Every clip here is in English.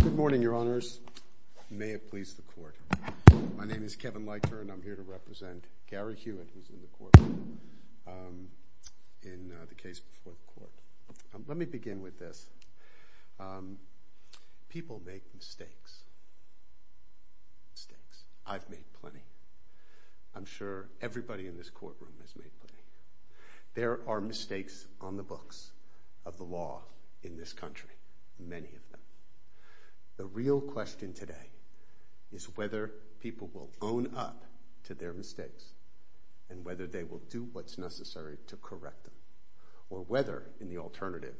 Good morning, Your Honors. May it please the Court. My name is Kevin Leichter and I'm here to represent Gary Hewitt, who's in the courtroom, in the case before the Court. Let me begin with this. People make mistakes. Mistakes. I've made plenty. I'm sure everybody in this courtroom has made plenty. There are mistakes on the books of the law in this country. We have many of them. The real question today is whether people will own up to their mistakes and whether they will do what's necessary to correct them, or whether, in the alternative,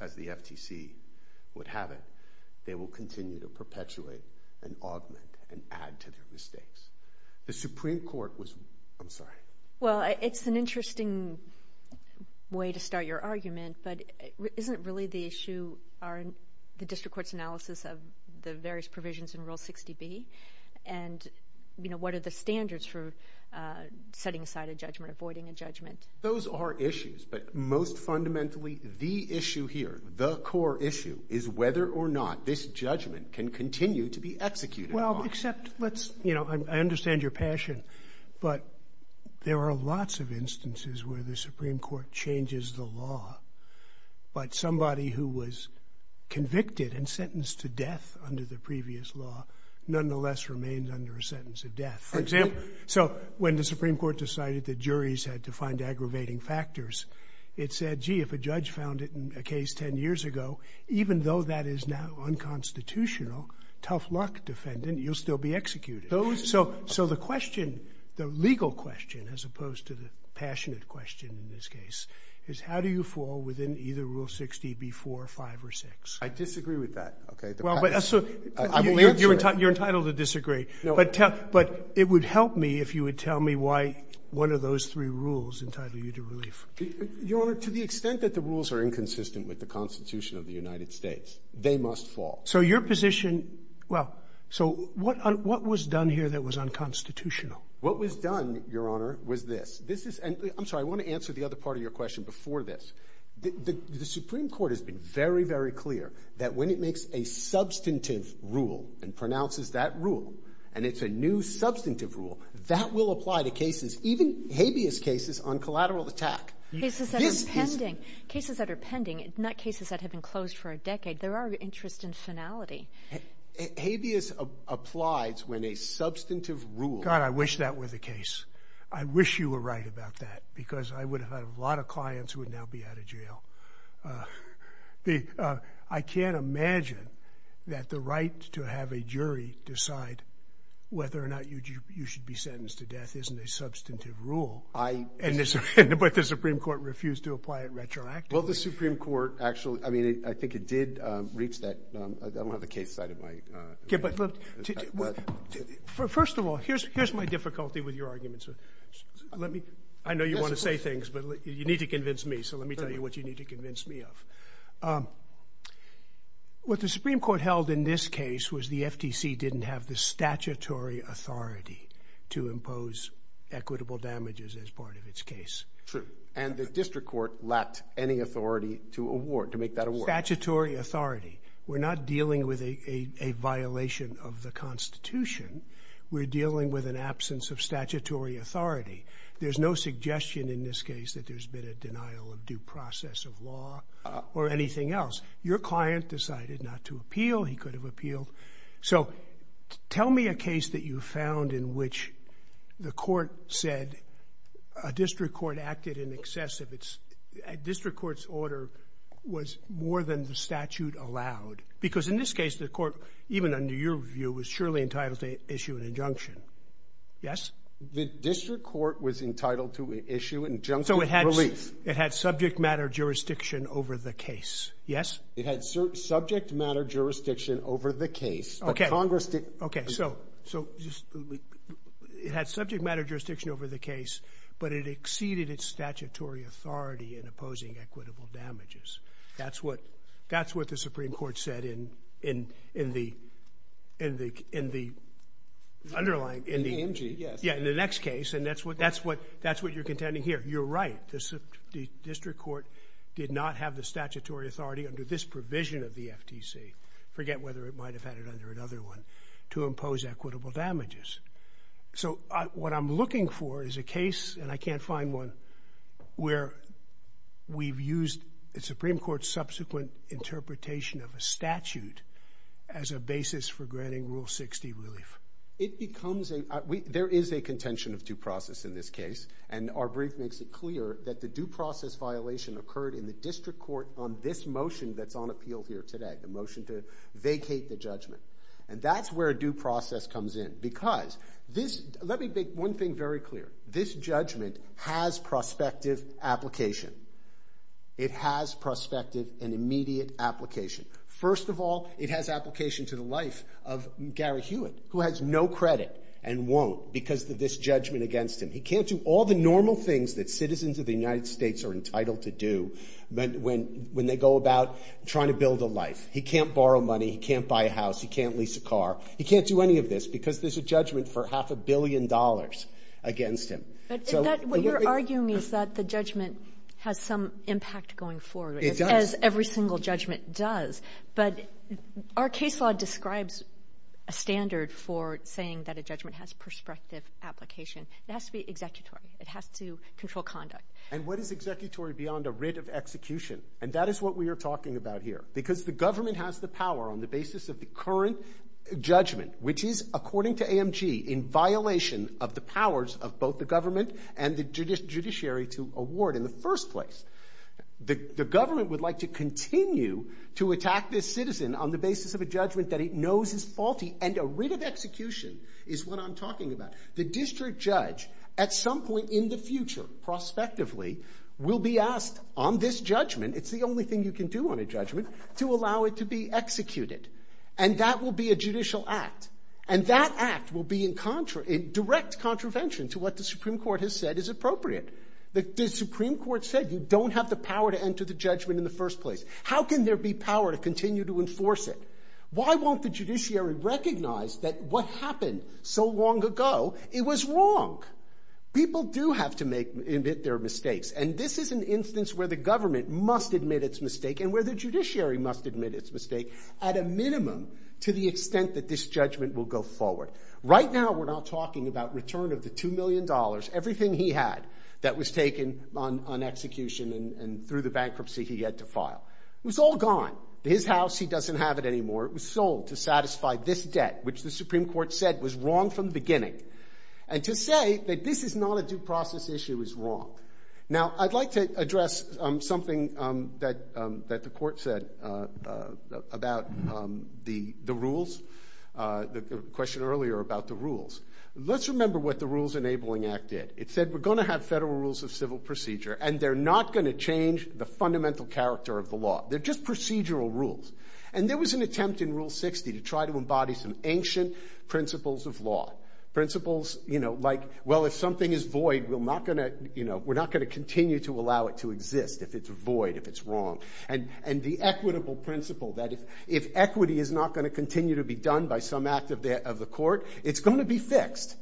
as the FTC would have it, they will continue to perpetuate and augment and add to their mistakes. The Supreme Court was... I'm sorry. Well, it's an interesting way to start your argument, but isn't really the issue the District Court's analysis of the various provisions in Rule 60B, and what are the standards for setting aside a judgment, avoiding a judgment? Those are issues, but most fundamentally, the issue here, the core issue, is whether or not this judgment can continue to be executed. Well, except let's, you know, I understand your passion, but there are lots of instances where the Supreme Court changes the law, but somebody who was convicted and sentenced to death under the previous law nonetheless remains under a sentence of death. For example, so when the Supreme Court decided that juries had to find aggravating factors, it said, gee, if a judge found it in a case ten years ago, even though that is now unconstitutional, tough luck, defendant, you'll still be executed. So the question, the legal question, as opposed to the passionate question in this case, is how do you fall within either Rule 60B-4, 5, or 6? I disagree with that. Well, but so... I will answer it. You're entitled to disagree. No. But it would help me if you would tell me why one of those three rules entitle you to relief. Your Honor, to the extent that the rules are inconsistent with the Constitution of the United States, they must fall. So your position – well, so what was done here that was unconstitutional? What was done, Your Honor, was this. This is – and I'm sorry, I want to answer the other part of your question before this. The Supreme Court has been very, very clear that when it makes a substantive rule and pronounces that rule, and it's a new substantive rule, that will apply to cases, even habeas cases on collateral attack. Cases that are pending. This is... Cases that are pending, not cases that have been closed for a decade. There are interest in finality. Habeas applies when a substantive rule... God, I wish that were the case. I wish you were right about that, because I would have had a lot of clients who would now be out of jail. I can't imagine that the right to have a jury decide whether or not you should be sentenced to death isn't a substantive rule. I... But the Supreme Court refused to apply it retroactively. Well, the Supreme Court actually – I mean, I think it did reach that – I don't have the case cited, but... Okay, but look, first of all, here's my difficulty with your arguments. Let me – I know you want to say things, but you need to convince me, so let me tell you what you need to convince me of. What the Supreme Court held in this case was the FTC didn't have the statutory authority to impose equitable damages as part of its case. True. And the district court lacked any authority to award – to make that award. Statutory authority. We're not dealing with a violation of the Constitution. We're dealing with an absence of statutory authority. There's no suggestion in this case that there's been a denial of due process of law or anything else. Your client decided not to appeal. He could have appealed. So tell me a case that you found in which the court said a district court acted in excess of its – a district court's order was more than the statute allowed. Because in this case, the court, even under your view, was surely entitled to issue an injunction. Yes? The district court was entitled to issue an injunction of relief. So it had subject matter jurisdiction over the case. Yes? It had subject matter jurisdiction over the case. Okay. So it had subject matter jurisdiction over the case, but it exceeded its statutory authority in opposing equitable damages. That's what the Supreme Court said in the underlying – in the next case. And that's what you're contending here. You're right. The district court did not have the statutory authority under this provision of the FTC – forget whether it might have had it under another one – to impose equitable damages. So what I'm looking for is a case – and I can't find one – where we've used the Supreme Court's subsequent interpretation of a statute as a basis for granting Rule 60 relief. It becomes a – there is a contention of due process in this case, and our brief makes it clear that the due process violation occurred in the district court on this motion that's on appeal here today, the motion to vacate the judgment. And that's where due process comes in. Because this – let me make one thing very clear. This judgment has prospective application. It has prospective and immediate application. First of all, it has application to the life of Gary Hewitt, who has no credit and won't because of this judgment against him. He can't do all the normal things that citizens of the United States are entitled to do when they go about trying to build a life. He can't borrow money. He can't buy a house. He can't lease a car. He can't do any of this because there's a judgment for half a billion dollars against him. And that – what you're arguing is that the judgment has some impact going forward. It does. As every single judgment does. But our case law describes a standard for saying that a judgment has prospective application. It has to be executory. It has to control conduct. And what is executory beyond a writ of execution? And that is what we are talking about here. Because the government has the power on the basis of the current judgment, which is, according to AMG, in violation of the powers of both the government and the judiciary to award in the first place. The government would like to continue to attack this citizen on the basis of a judgment that it knows is faulty. And a writ of execution is what I'm talking about. The district judge, at some point in the future, prospectively, will be asked on this judgment – it's the only thing you can do on a judgment – to allow it to be executed. And that will be a judicial act. And that act will be in direct contravention to what the Supreme Court has said is appropriate. The Supreme Court said you don't have the power to enter the judgment in the first place. How can there be power to continue to enforce it? Why won't the judiciary recognize that what happened so long ago, it was wrong? People do have to admit their mistakes. And this is an instance where the government must admit its mistake and where the judiciary must admit its mistake, at a minimum, to the extent that this judgment will go forward. Right now, we're not talking about return of the $2 million, everything he had that was taken on execution and through the bankruptcy he had to file. It was all gone. His house, he doesn't have it anymore. It was sold to satisfy this debt, which the Supreme Court said was wrong from the beginning. And to say that this is not a due process issue is wrong. Now, I'd like to address something that the Court said about the rules, the question earlier about the rules. Let's remember what the Rules Enabling Act did. It said we're going to have federal rules of civil procedure, and they're not going to change the fundamental character of the law. They're just procedural rules. And there was an attempt in Rule 60 to try to embody some ancient principles of law. Principles like, well, if something is void, we're not going to continue to allow it to exist, if it's void, if it's wrong. And the equitable principle that if equity is not going to continue to be done by some act of the Court, it's going to be fixed.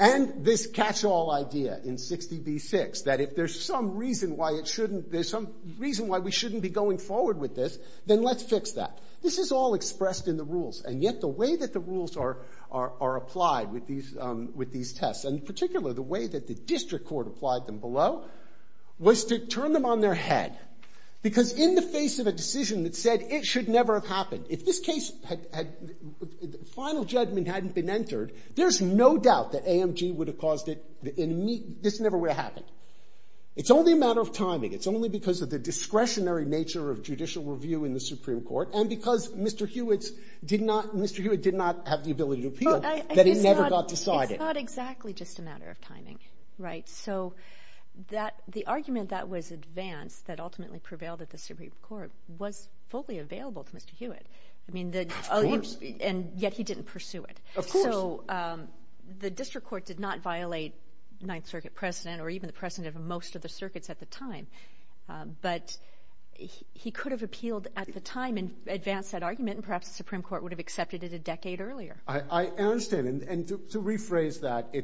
And this catch-all idea in 60b-6, that if there's some reason why it shouldn't, there's some reason why we shouldn't be going forward with this, then let's fix that. This is all expressed in the rules. And yet the way that the rules are applied with these tests, and in particular the way that the district court applied them below, was to turn them on their head. Because in the face of a decision that said it should never have happened, if this case had, the final judgment hadn't been entered, there's no doubt that AMG would have caused it, and this never would have happened. It's only a matter of timing. It's only because of the discretionary nature of judicial review in the Supreme Court, and because Mr. Hewitt did not have the ability to appeal, that it never got decided. It's not exactly just a matter of timing, right? So the argument that was advanced, that ultimately prevailed at the Supreme Court, was fully available to Mr. Hewitt. Of course. And yet he didn't pursue it. Of course. So the district court did not violate Ninth Circuit precedent, or even the precedent of most of the circuits at the time. But he could have appealed at the time and advanced that argument, and perhaps the Supreme Court would have accepted it a decade earlier. I understand. And to rephrase that,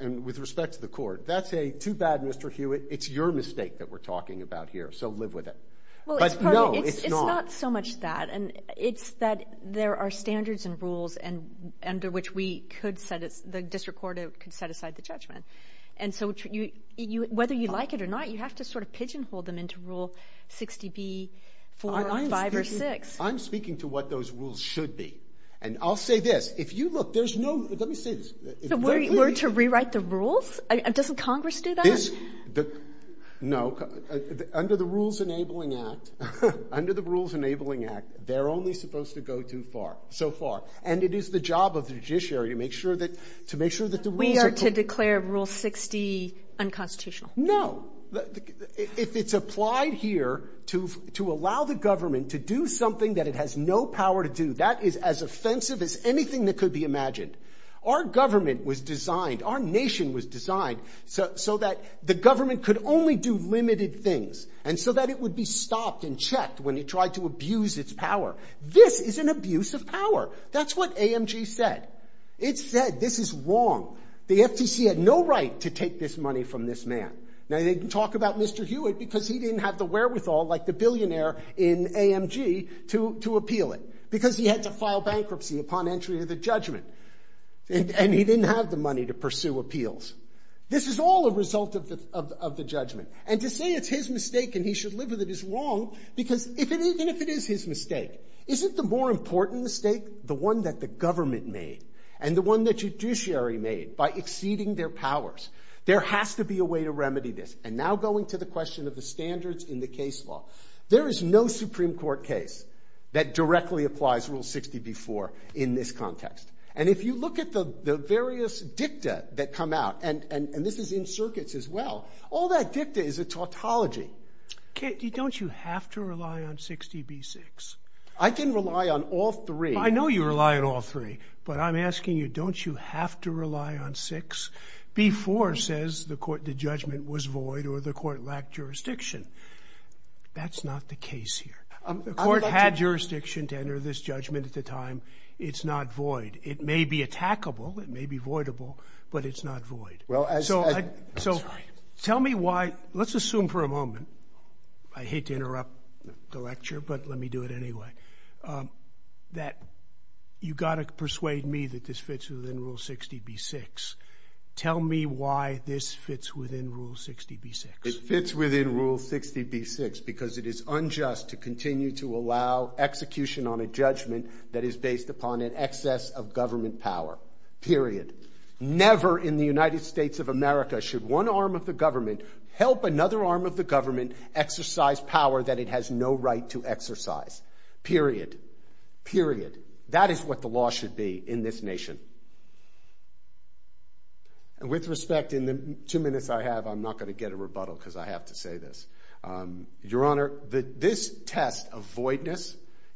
and with respect to the court, that's a too bad, Mr. Hewitt. It's your mistake that we're talking about here, so live with it. But no, it's not. It's not so much that. It's that there are standards and rules under which the district court could set aside the judgment. And so whether you like it or not, you have to sort of pigeonhole them into Rule 60B, 4, 5, or 6. I'm speaking to what those rules should be. And I'll say this. If you look, there's no—let me say this. So we're to rewrite the rules? Doesn't Congress do that? No. Under the Rules Enabling Act, they're only supposed to go so far. And it is the job of the judiciary to make sure that the rules are— We are to declare Rule 60 unconstitutional. No. If it's applied here to allow the government to do something that it has no power to do, that is as offensive as anything that could be imagined. Our government was designed—our nation was designed so that the government could only do limited things and so that it would be stopped and checked when it tried to abuse its power. This is an abuse of power. That's what AMG said. It said, this is wrong. The FTC had no right to take this money from this man. Now, they talk about Mr. Hewitt because he didn't have the wherewithal, like the billionaire in AMG, to appeal it, because he had to file bankruptcy upon entry to the judgment. And he didn't have the money to pursue appeals. This is all a result of the judgment. And to say it's his mistake and he should live with it is wrong, because even if it is his mistake, isn't the more important mistake the one that the government made and the one the judiciary made by exceeding their powers? There has to be a way to remedy this. And now going to the question of the standards in the case law, there is no Supreme Court case that directly applies Rule 60b-4 in this context. And if you look at the various dicta that come out, and this is in circuits as well, all that dicta is a tautology. Don't you have to rely on 60b-6? I can rely on all three. I know you rely on all three, but I'm asking you, don't you have to rely on 6? B-4 says the judgment was void or the court lacked jurisdiction. That's not the case here. The court had jurisdiction to enter this judgment at the time. It's not void. It may be attackable, it may be voidable, but it's not void. So tell me why, let's assume for a moment, I hate to interrupt the lecture, but let me do it anyway, that you've got to persuade me that this fits within Rule 60b-6. Tell me why this fits within Rule 60b-6. It fits within Rule 60b-6 because it is unjust to continue to allow execution on a judgment that is based upon an excess of government power, period. Never in the United States of America should one arm of the government help another arm of the government exercise power that it has no right to exercise, period, period. That is what the law should be in this nation. And with respect, in the two minutes I have, I'm not going to get a rebuttal because I have to say this. Your Honor, this test of voidness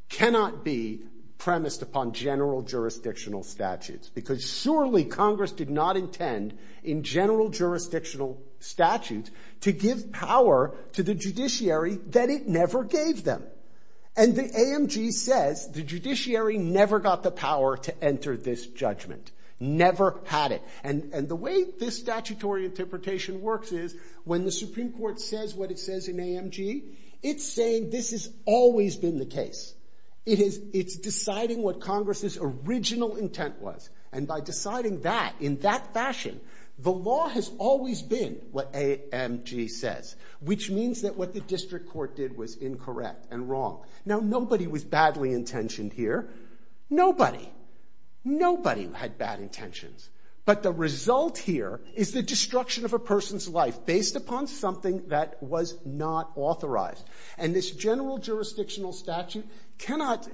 cannot be premised upon general jurisdictional statutes because surely Congress did not intend in general jurisdictional statutes to give power to the judiciary that it never gave them. And the AMG says the judiciary never got the power to enter this judgment. Never had it. And the way this statutory interpretation works is when the Supreme Court says what it says in AMG, it's saying this has always been the case. It's deciding what Congress's original intent was. And by deciding that in that fashion, the law has always been what AMG says, which means that what the district court did was incorrect and wrong. Now, nobody was badly intentioned here. Nobody. Nobody had bad intentions. But the result here is the destruction of a person's life based upon something that was not authorized. And this general jurisdictional statute cannot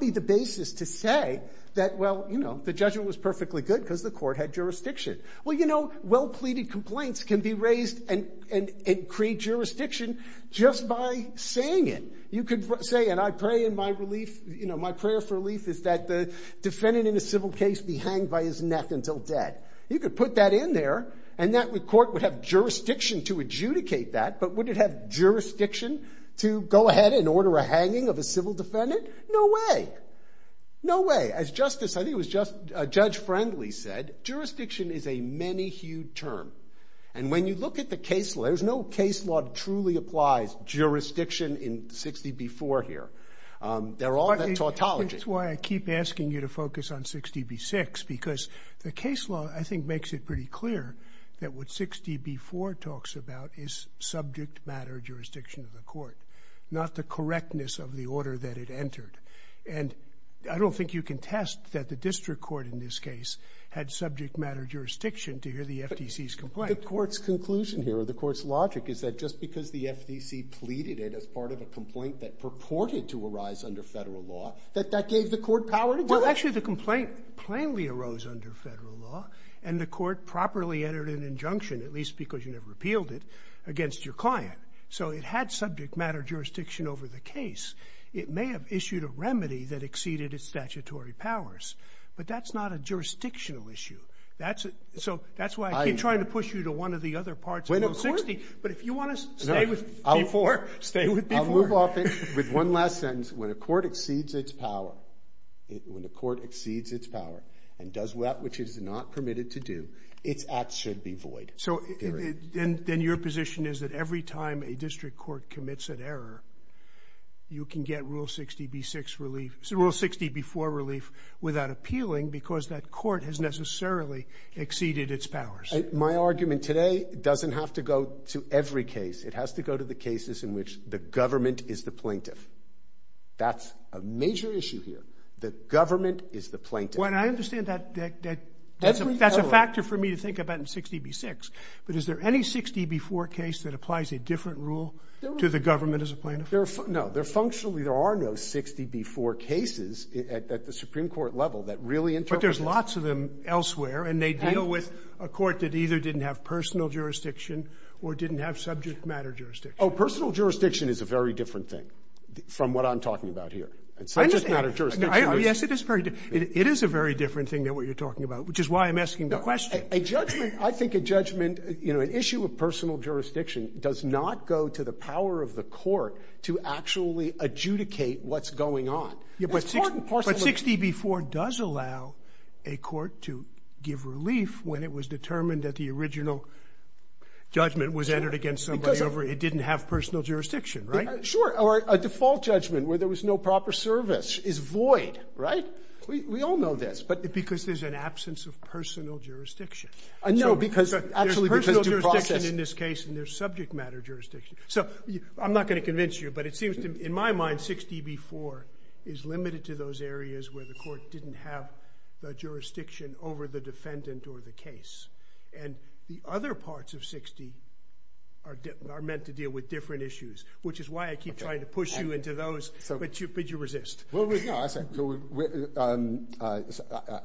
be the basis to say that, well, you know, the judgment was perfectly good because the court had jurisdiction. Well, you know, well-pleaded complaints can be raised and create jurisdiction just by saying it. You could say, and I pray in my relief, you know, my prayer for relief is that the defendant in a civil case be hanged by his neck until dead. You could put that in there and that court would have jurisdiction to adjudicate that, but would it have jurisdiction to go ahead and order a hanging of a civil defendant? No way. No way. As Justice, I think it was Judge Friendly said, jurisdiction is a many-hued term. And when you look at the case law, there's no case law that truly applies jurisdiction in 60B-4 here. They're all that tautology. That's why I keep asking you to focus on 60B-6 because the case law, I think, makes it pretty clear that what 60B-4 talks about is subject matter jurisdiction of the court, not the correctness of the order that it entered. And I don't think you can test that the district court in this case had subject matter jurisdiction to hear the FTC's complaint. The court's conclusion here, or the court's logic, is that just because the FTC pleaded it as part of a complaint that purported to arise under Federal law, that that gave the court power to do it? Well, actually, the complaint plainly arose under Federal law, and the court properly entered an injunction, at least because you never repealed it, against your client. So it had subject matter jurisdiction over the case. It may have issued a remedy that exceeded its statutory powers, but that's not a jurisdictional issue. So that's why I keep trying to push you to one of the other parts of 60, but if you want to stay with B-4, stay with B-4. I'll move off it with one last sentence. When a court exceeds its power and does that which it is not permitted to do, its acts should be void. Then your position is that every time a district court commits an error, you can get Rule 60B-4 relief without appealing because that court has necessarily exceeded its powers? My argument today doesn't have to go to every case. It has to go to the cases in which the government is the plaintiff. That's a major issue here. The government is the plaintiff. I understand that's a factor for me to think about in 60B-6, but is there any 60B-4 case that applies a different rule to the government as a plaintiff? No. Functionally there are no 60B-4 cases at the Supreme Court level that really interpret it. But there's lots of them elsewhere, and they deal with a court that either didn't have personal jurisdiction or didn't have subject matter jurisdiction. Personal jurisdiction is a very different thing from what I'm talking about here. It's subject matter jurisdiction. Yes, it is very different. It is a very different thing than what you're talking about, which is why I'm asking the question. A judgment, I think a judgment, you know, an issue of personal jurisdiction does not go to the power of the court to actually adjudicate what's going on. But 60B-4 does allow a court to give relief when it was determined that the original judgment was entered against somebody over it didn't have personal jurisdiction, Sure. Or a default judgment where there was no proper service is void, right? We all know this. Because there's an absence of personal jurisdiction. No, because there's personal jurisdiction in this case, and there's subject matter jurisdiction. So I'm not going to convince you, but it seems to me, in my mind, 60B-4 is limited to those areas where the court didn't have the jurisdiction over the defendant or the case. And the other parts of 60 are meant to deal with different issues, which is why I keep trying to push you into those. But you resist. Well, no, I say,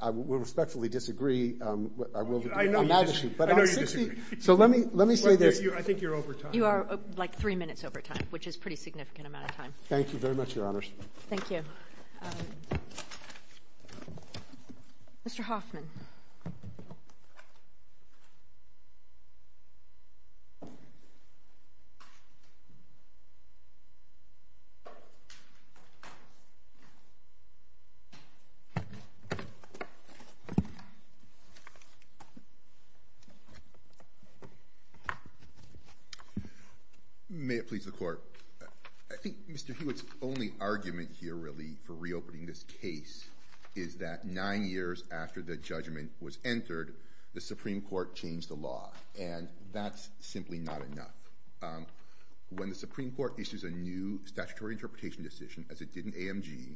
I respectfully disagree. I know you disagree. So let me say this. I think you're over time. You are like three minutes over time, which is a pretty significant amount of time. Thank you very much, Your Honors. Thank you. Mr. Hoffman. May it please the Court. I think Mr. Hewitt's only argument here, really, for reopening this case is that nine years after the judgment was entered, the Supreme Court changed the law. And that's simply not enough. When the Supreme Court issues a new statutory interpretation decision, as it did in AMG,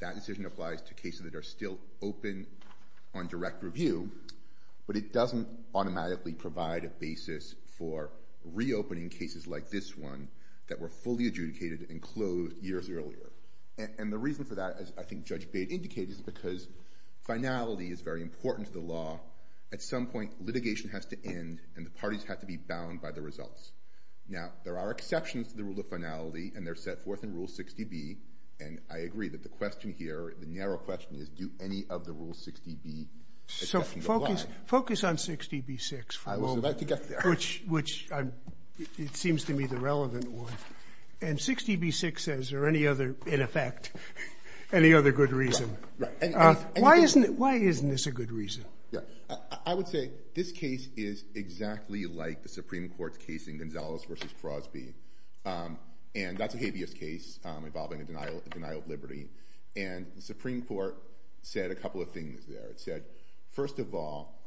that decision applies to cases that are still open on direct review, but it doesn't automatically provide a basis for reopening cases like this one that were fully adjudicated and closed years earlier. And the reason for that, as I think Judge Bate indicated, is because finality is very important to the law. At some point, litigation has to end, and the parties have to be bound by the results. Now, there are exceptions to the rule of finality, and they're set forth in Rule 60B. And I agree that the question here, the narrow question, is do any of the Rule 60B exceptions apply? So focus on 60B-6 for a moment. I was about to get there. Which it seems to me the relevant one. And 60B-6, is there any other, in effect, any other good reason? Right. Why isn't this a good reason? I would say this case is exactly like the Supreme Court's case in Gonzales v. Crosby. And that's a habeas case involving a denial of liberty. And the Supreme Court said a couple of things there. It said, first of all,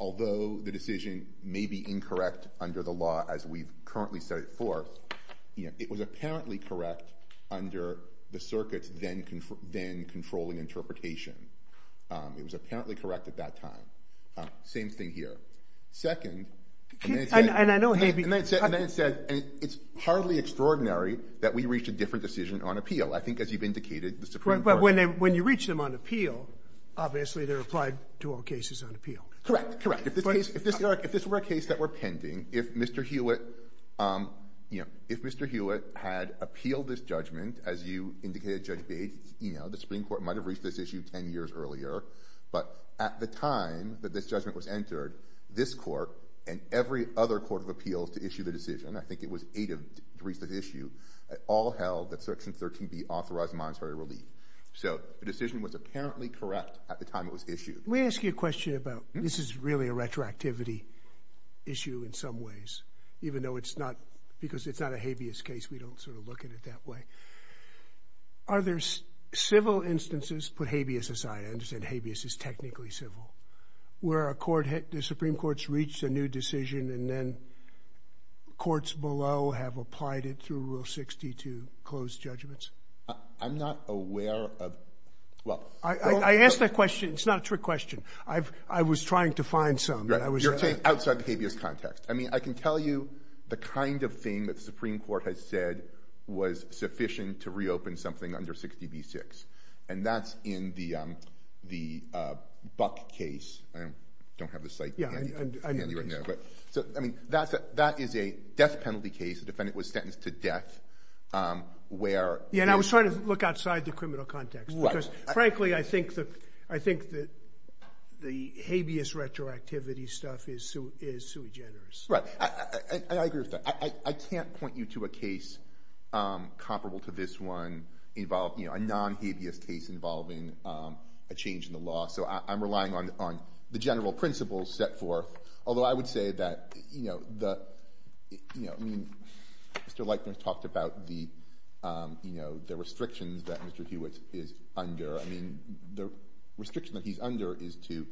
although the decision may be incorrect under the law as we currently set it forth, it was apparently correct under the circuit's then-controlling interpretation. It was apparently correct at that time. Same thing here. Second, and then it said it's hardly extraordinary that we reached a different decision on appeal. I think, as you've indicated, the Supreme Court. But when you reach them on appeal, obviously they're applied to all cases on appeal. Correct, correct. If this were a case that were pending, if Mr. Hewitt had appealed this judgment, as you indicated, Judge Bates, the Supreme Court might have reached this issue 10 years earlier. But at the time that this judgment was entered, this court and every other court of appeals to issue the decision, I think it was eight that reached this issue, all held that Section 13B authorized monetary relief. So the decision was apparently correct at the time it was issued. Let me ask you a question about, this is really a retroactivity issue in some ways, even though it's not, because it's not a habeas case, we don't sort of look at it that way. Are there civil instances, put habeas aside, I understand habeas is technically civil, where a court, the Supreme Court's reached a new decision and then courts below have applied it through Rule 60 to close judgments? I'm not aware of, well. I asked that question. It's not a trick question. I was trying to find some. You're saying outside the habeas context. I mean, I can tell you the kind of thing that the Supreme Court has said was sufficient to reopen something under 60B-6, and that's in the Buck case. I don't have the site handy right now. So, I mean, that is a death penalty case. The defendant was sentenced to death where. Yeah, and I was trying to look outside the criminal context. Because, frankly, I think the habeas retroactivity stuff is sui generis. Right. I agree with that. I can't point you to a case comparable to this one, a non-habeas case involving a change in the law, so I'm relying on the general principles set forth. Although I would say that, you know, the restrictions that Mr. Hewitt is under, I mean, the restriction that he's under is to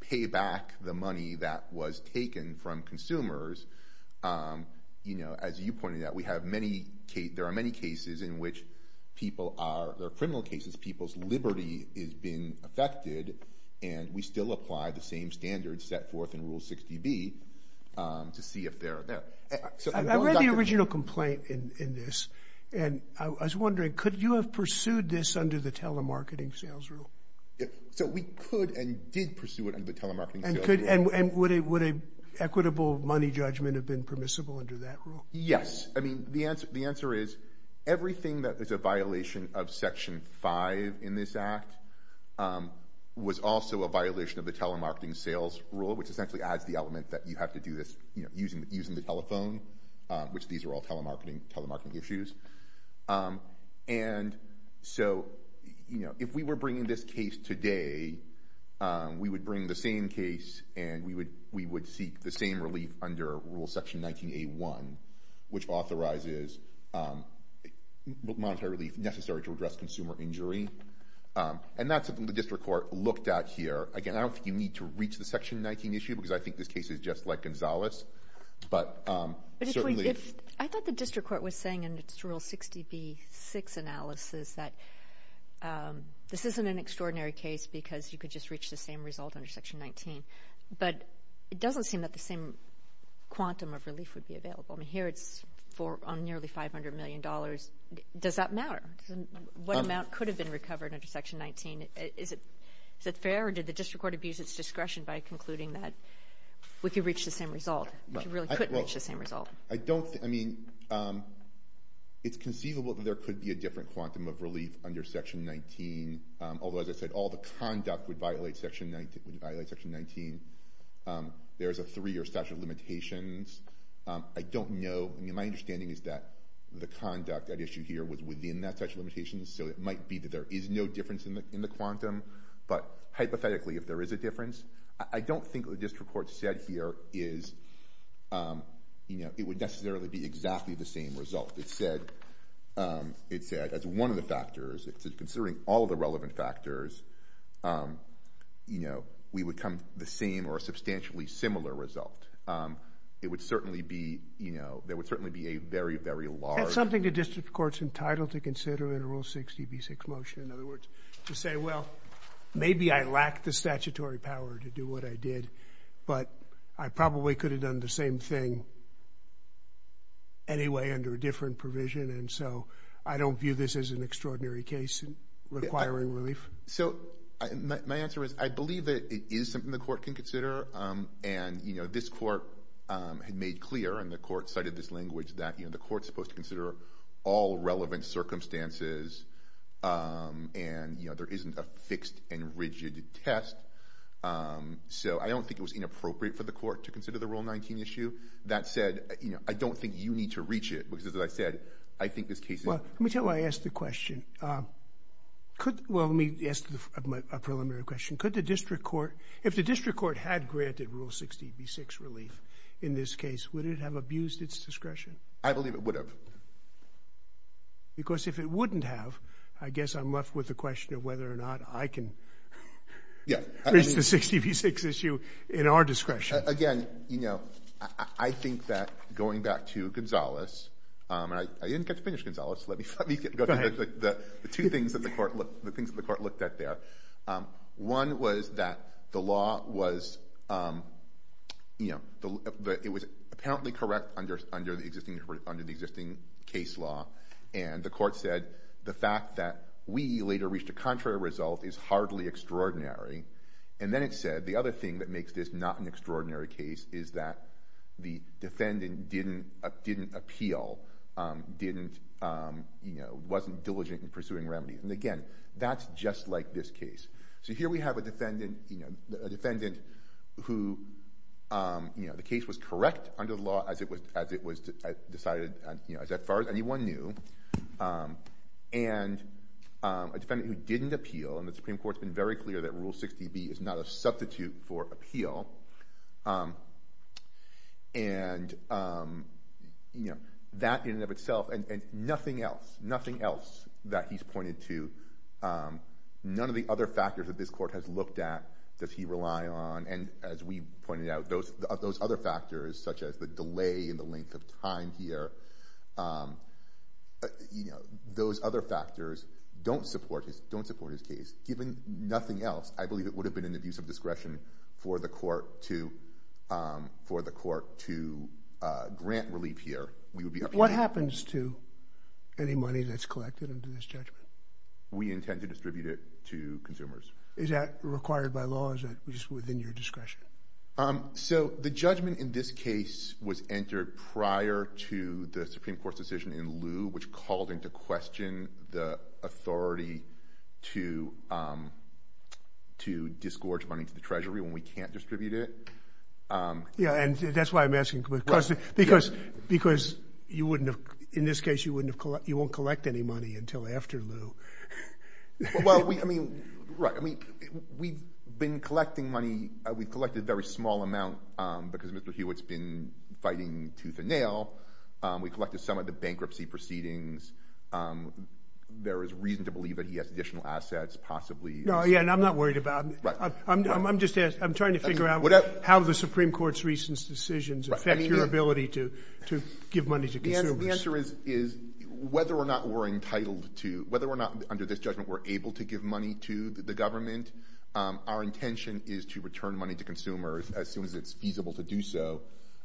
pay back the money that was taken from consumers. You know, as you pointed out, we have many cases, there are many cases in which people are, there are criminal cases, people's liberty is being affected, and we still apply the same standards set forth in Rule 60B to see if they're there. I read the original complaint in this, and I was wondering, could you have pursued this under the telemarketing sales rule? So we could and did pursue it under the telemarketing sales rule. And would an equitable money judgment have been permissible under that rule? Yes. I mean, the answer is, everything that is a violation of Section 5 in this act was also a violation of the telemarketing sales rule, which essentially adds the element that you have to do this, you know, using the telephone, which these are all telemarketing issues. And so, you know, if we were bringing this case today, we would bring the same case, and we would seek the same relief under Rule Section 19A1, which authorizes monetary relief necessary to address consumer injury. And that's something the district court looked at here. Again, I don't think you need to reach the Section 19 issue, because I think this case is just like Gonzalez, but certainly... I think it's just Rule 60B6 analysis that this isn't an extraordinary case because you could just reach the same result under Section 19. But it doesn't seem that the same quantum of relief would be available. I mean, here it's on nearly $500 million. Does that matter? What amount could have been recovered under Section 19? Is it fair, or did the district court abuse its discretion by concluding that we could reach the same result, if you really could reach the same result? I don't... I mean, it's conceivable that there could be a different quantum of relief under Section 19, although, as I said, all the conduct would violate Section 19. There's a three-year statute of limitations. I don't know. I mean, my understanding is that the conduct at issue here was within that statute of limitations, so it might be that there is no difference in the quantum. But hypothetically, if there is a difference, I don't think what the district court said here is... it would necessarily be exactly the same result. It said, as one of the factors, considering all of the relevant factors, we would come to the same or a substantially similar result. It would certainly be... there would certainly be a very, very large... That's something the district court's entitled to consider in a Rule 60b6 motion, in other words, to say, well, maybe I lack the statutory power to do what I did, but I probably could have done the same thing anyway, under a different provision, and so I don't view this as an extraordinary case requiring relief. So my answer is I believe that it is something the court can consider, and this court had made clear, and the court cited this language, that the court's supposed to consider all relevant circumstances, and there isn't a fixed and rigid test. So I don't think it was inappropriate for the court to consider the Rule 19 issue. That said, I don't think you need to reach it, because as I said, I think this case is... Let me tell you why I asked the question. Well, let me ask a preliminary question. Could the district court... If the district court had granted Rule 60b6 relief in this case, would it have abused its discretion? I believe it would have. Because if it wouldn't have, I guess I'm left with the question of whether or not I can... Yeah.... reach the 60b6 issue in our discretion. Again, you know, I think that going back to Gonzales, and I didn't get to finish Gonzales. Let me go through the two things that the court looked at there. One was that the law was, you know, it was apparently correct under the existing case law, and the court said, the fact that we later reached a contrary result is hardly extraordinary. And then it said, the other thing that makes this not an extraordinary case is that the defendant didn't appeal, wasn't diligent in pursuing remedies. And again, that's just like this case. So here we have a defendant, you know, a defendant who, you know, the case was correct under the law as it was decided, you know, as far as anyone knew. And a defendant who didn't appeal, and the Supreme Court's been very clear that Rule 60b is not a substitute for appeal. And, you know, that in and of itself, and nothing else, nothing else that he's pointed to, none of the other factors that this court has looked at does he rely on. And as we pointed out, those other factors, such as the delay in the length of time here, you know, those other factors don't support his case. Given nothing else, I believe it would have been an abuse of discretion for the court to grant relief here. What happens to any money that's collected under this judgment? We intend to distribute it to consumers. Is that required by law? Is it just within your discretion? So the judgment in this case was entered prior to the Supreme Court's decision in lieu, which called into question the authority to disgorge money to the Treasury when we can't distribute it. Yeah, and that's why I'm asking. Because you wouldn't have, in this case, you won't collect any money until after lieu. Well, I mean, right. I mean, we've been collecting money. We've collected a very small amount because Mr. Hewitt's been fighting tooth and nail. We collected some of the bankruptcy proceedings. There is reason to believe that he has additional assets, possibly. No, yeah, and I'm not worried about it. I'm just asking. I'm trying to figure out how the Supreme Court's recent decisions affect your ability to give money to consumers. So the answer is, whether or not we're entitled to, whether or not under this judgment we're able to give money to the government, our intention is to return money to consumers as soon as it's feasible to do so.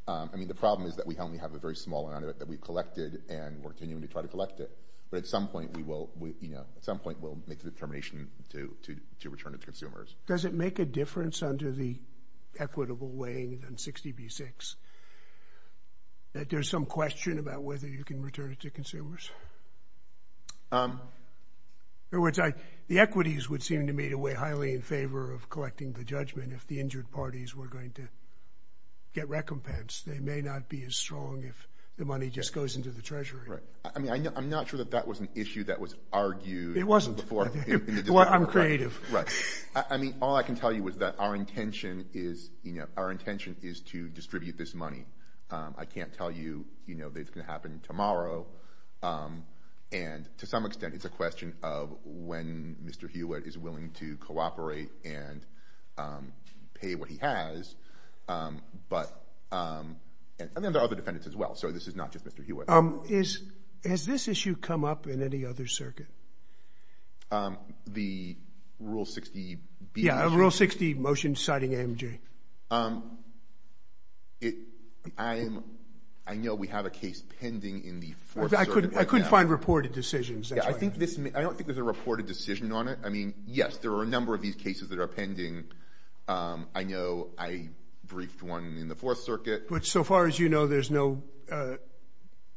I mean, the problem is that we only have a very small amount of it that we've collected and we're continuing to try to collect it. But at some point, we'll make the determination to return it to consumers. Does it make a difference under the equitable weighing in 60 v. 6 that there's some question about whether you can return it to consumers? In other words, the equities would seem to me to weigh highly in favor of collecting the judgment if the injured parties were going to get recompense. They may not be as strong if the money just goes into the Treasury. I mean, I'm not sure that that was an issue that was argued... It wasn't. Well, I'm creative. Right. I mean, all I can tell you is that our intention is, you know, our intention is to distribute this money. I can't tell you, you know, that it's going to happen tomorrow. And to some extent, it's a question of when Mr. Hewitt is willing to cooperate and pay what he has. But... And then there are other defendants as well, so this is not just Mr. Hewitt. Has this issue come up in any other circuit? The Rule 60... Yeah, Rule 60, motion citing AMG. I know we have a case pending in the Fourth Circuit. I couldn't find reported decisions. I don't think there's a reported decision on it. I mean, yes, there are a number of these cases that are pending. I know I briefed one in the Fourth Circuit. But so far as you know, there's no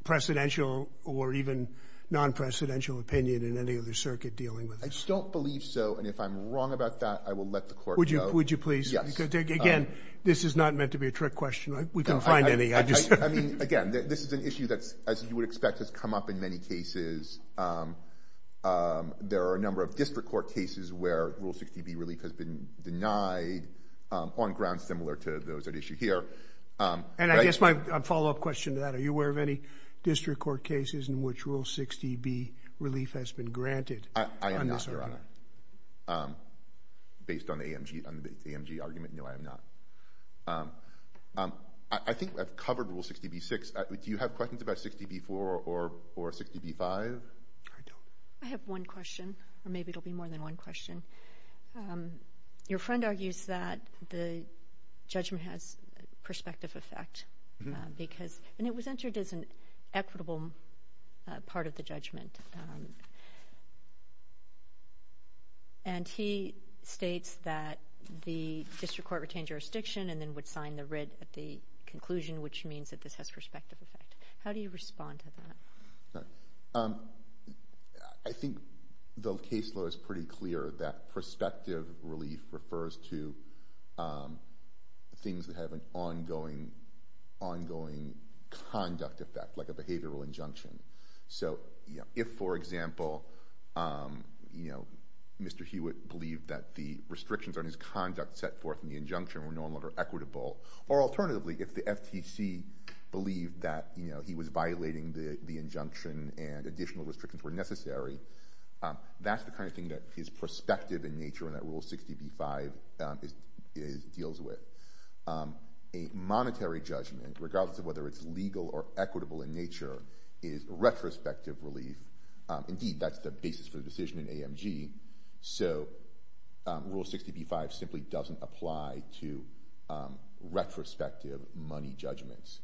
precedential or even non-precedential opinion in any other circuit dealing with this. I don't believe so, and if I'm wrong about that, I will let the court know. Would you please? Yes. Again, this is not meant to be a trick question. We can find any. I mean, again, this is an issue that, as you would expect, has come up in many cases. There are a number of district court cases where Rule 60b relief has been denied on grounds similar to those at issue here. And I guess my follow-up question to that, in which Rule 60b relief has been granted? I am not, Your Honor. Based on the AMG argument, no, I am not. I think I've covered Rule 60b-6. Do you have questions about 60b-4 or 60b-5? I don't. I have one question, or maybe it will be more than one question. Your friend argues that the judgment has perspective effect because it was entered as an equitable part of the judgment. And he states that the district court retained jurisdiction and then would sign the writ at the conclusion, which means that this has perspective effect. How do you respond to that? I think the case law is pretty clear that perspective relief refers to things that have an ongoing conduct effect, like a behavioral injunction. So if, for example, Mr. Hewitt believed that the restrictions on his conduct set forth in the injunction were no longer equitable, or alternatively, if the FTC believed that he was violating the injunction and additional restrictions were necessary, that's the kind of thing that his perspective in nature and that Rule 60b-5 deals with. A monetary judgment, regardless of whether it's legal or equitable in nature, is retrospective relief. Indeed, that's the basis for the decision in AMG. So Rule 60b-5 simply doesn't apply to retrospective money judgments.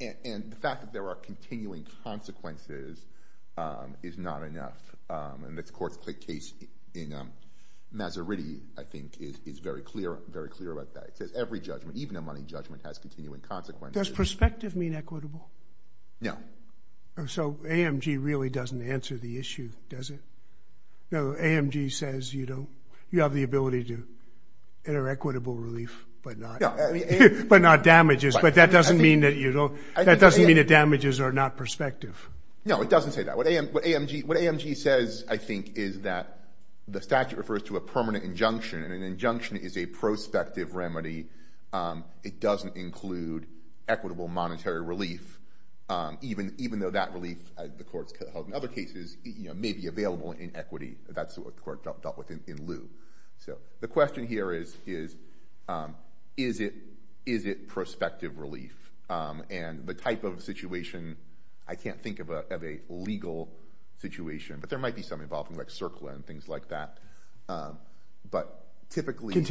And the fact that there are continuing consequences is not enough. And the court's case in Maserati, I think, is very clear about that. It says every judgment, even a money judgment, has continuing consequences. Does perspective mean equitable? No. So AMG really doesn't answer the issue, does it? No, AMG says you have the ability to enter equitable relief, but not damages. But that doesn't mean that damages are not perspective. No, it doesn't say that. What AMG says, I think, is that the statute refers to a permanent injunction, and an injunction is a prospective remedy. It doesn't include equitable monetary relief, even though that relief, the court's held in other cases, may be available in equity. That's what the court dealt with in lieu. So the question here is, is it prospective relief? And the type of situation, I can't think of a legal situation, but there might be some involving, like, CERCLA and things like that. But typically... For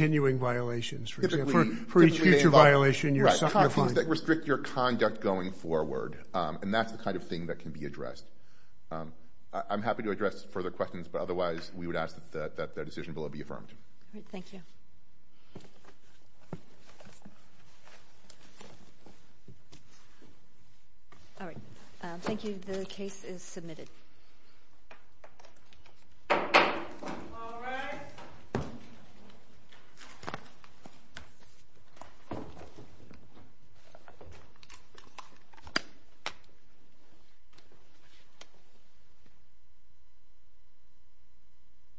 each future violation, you're sanctified. Right, things that restrict your conduct going forward. And that's the kind of thing that can be addressed. I'm happy to address further questions, but otherwise we would ask that the decision below be affirmed. Great, thank you. All right, thank you. The case is submitted. All rise. Thank you.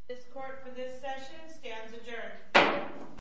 This court for this session stands adjourned.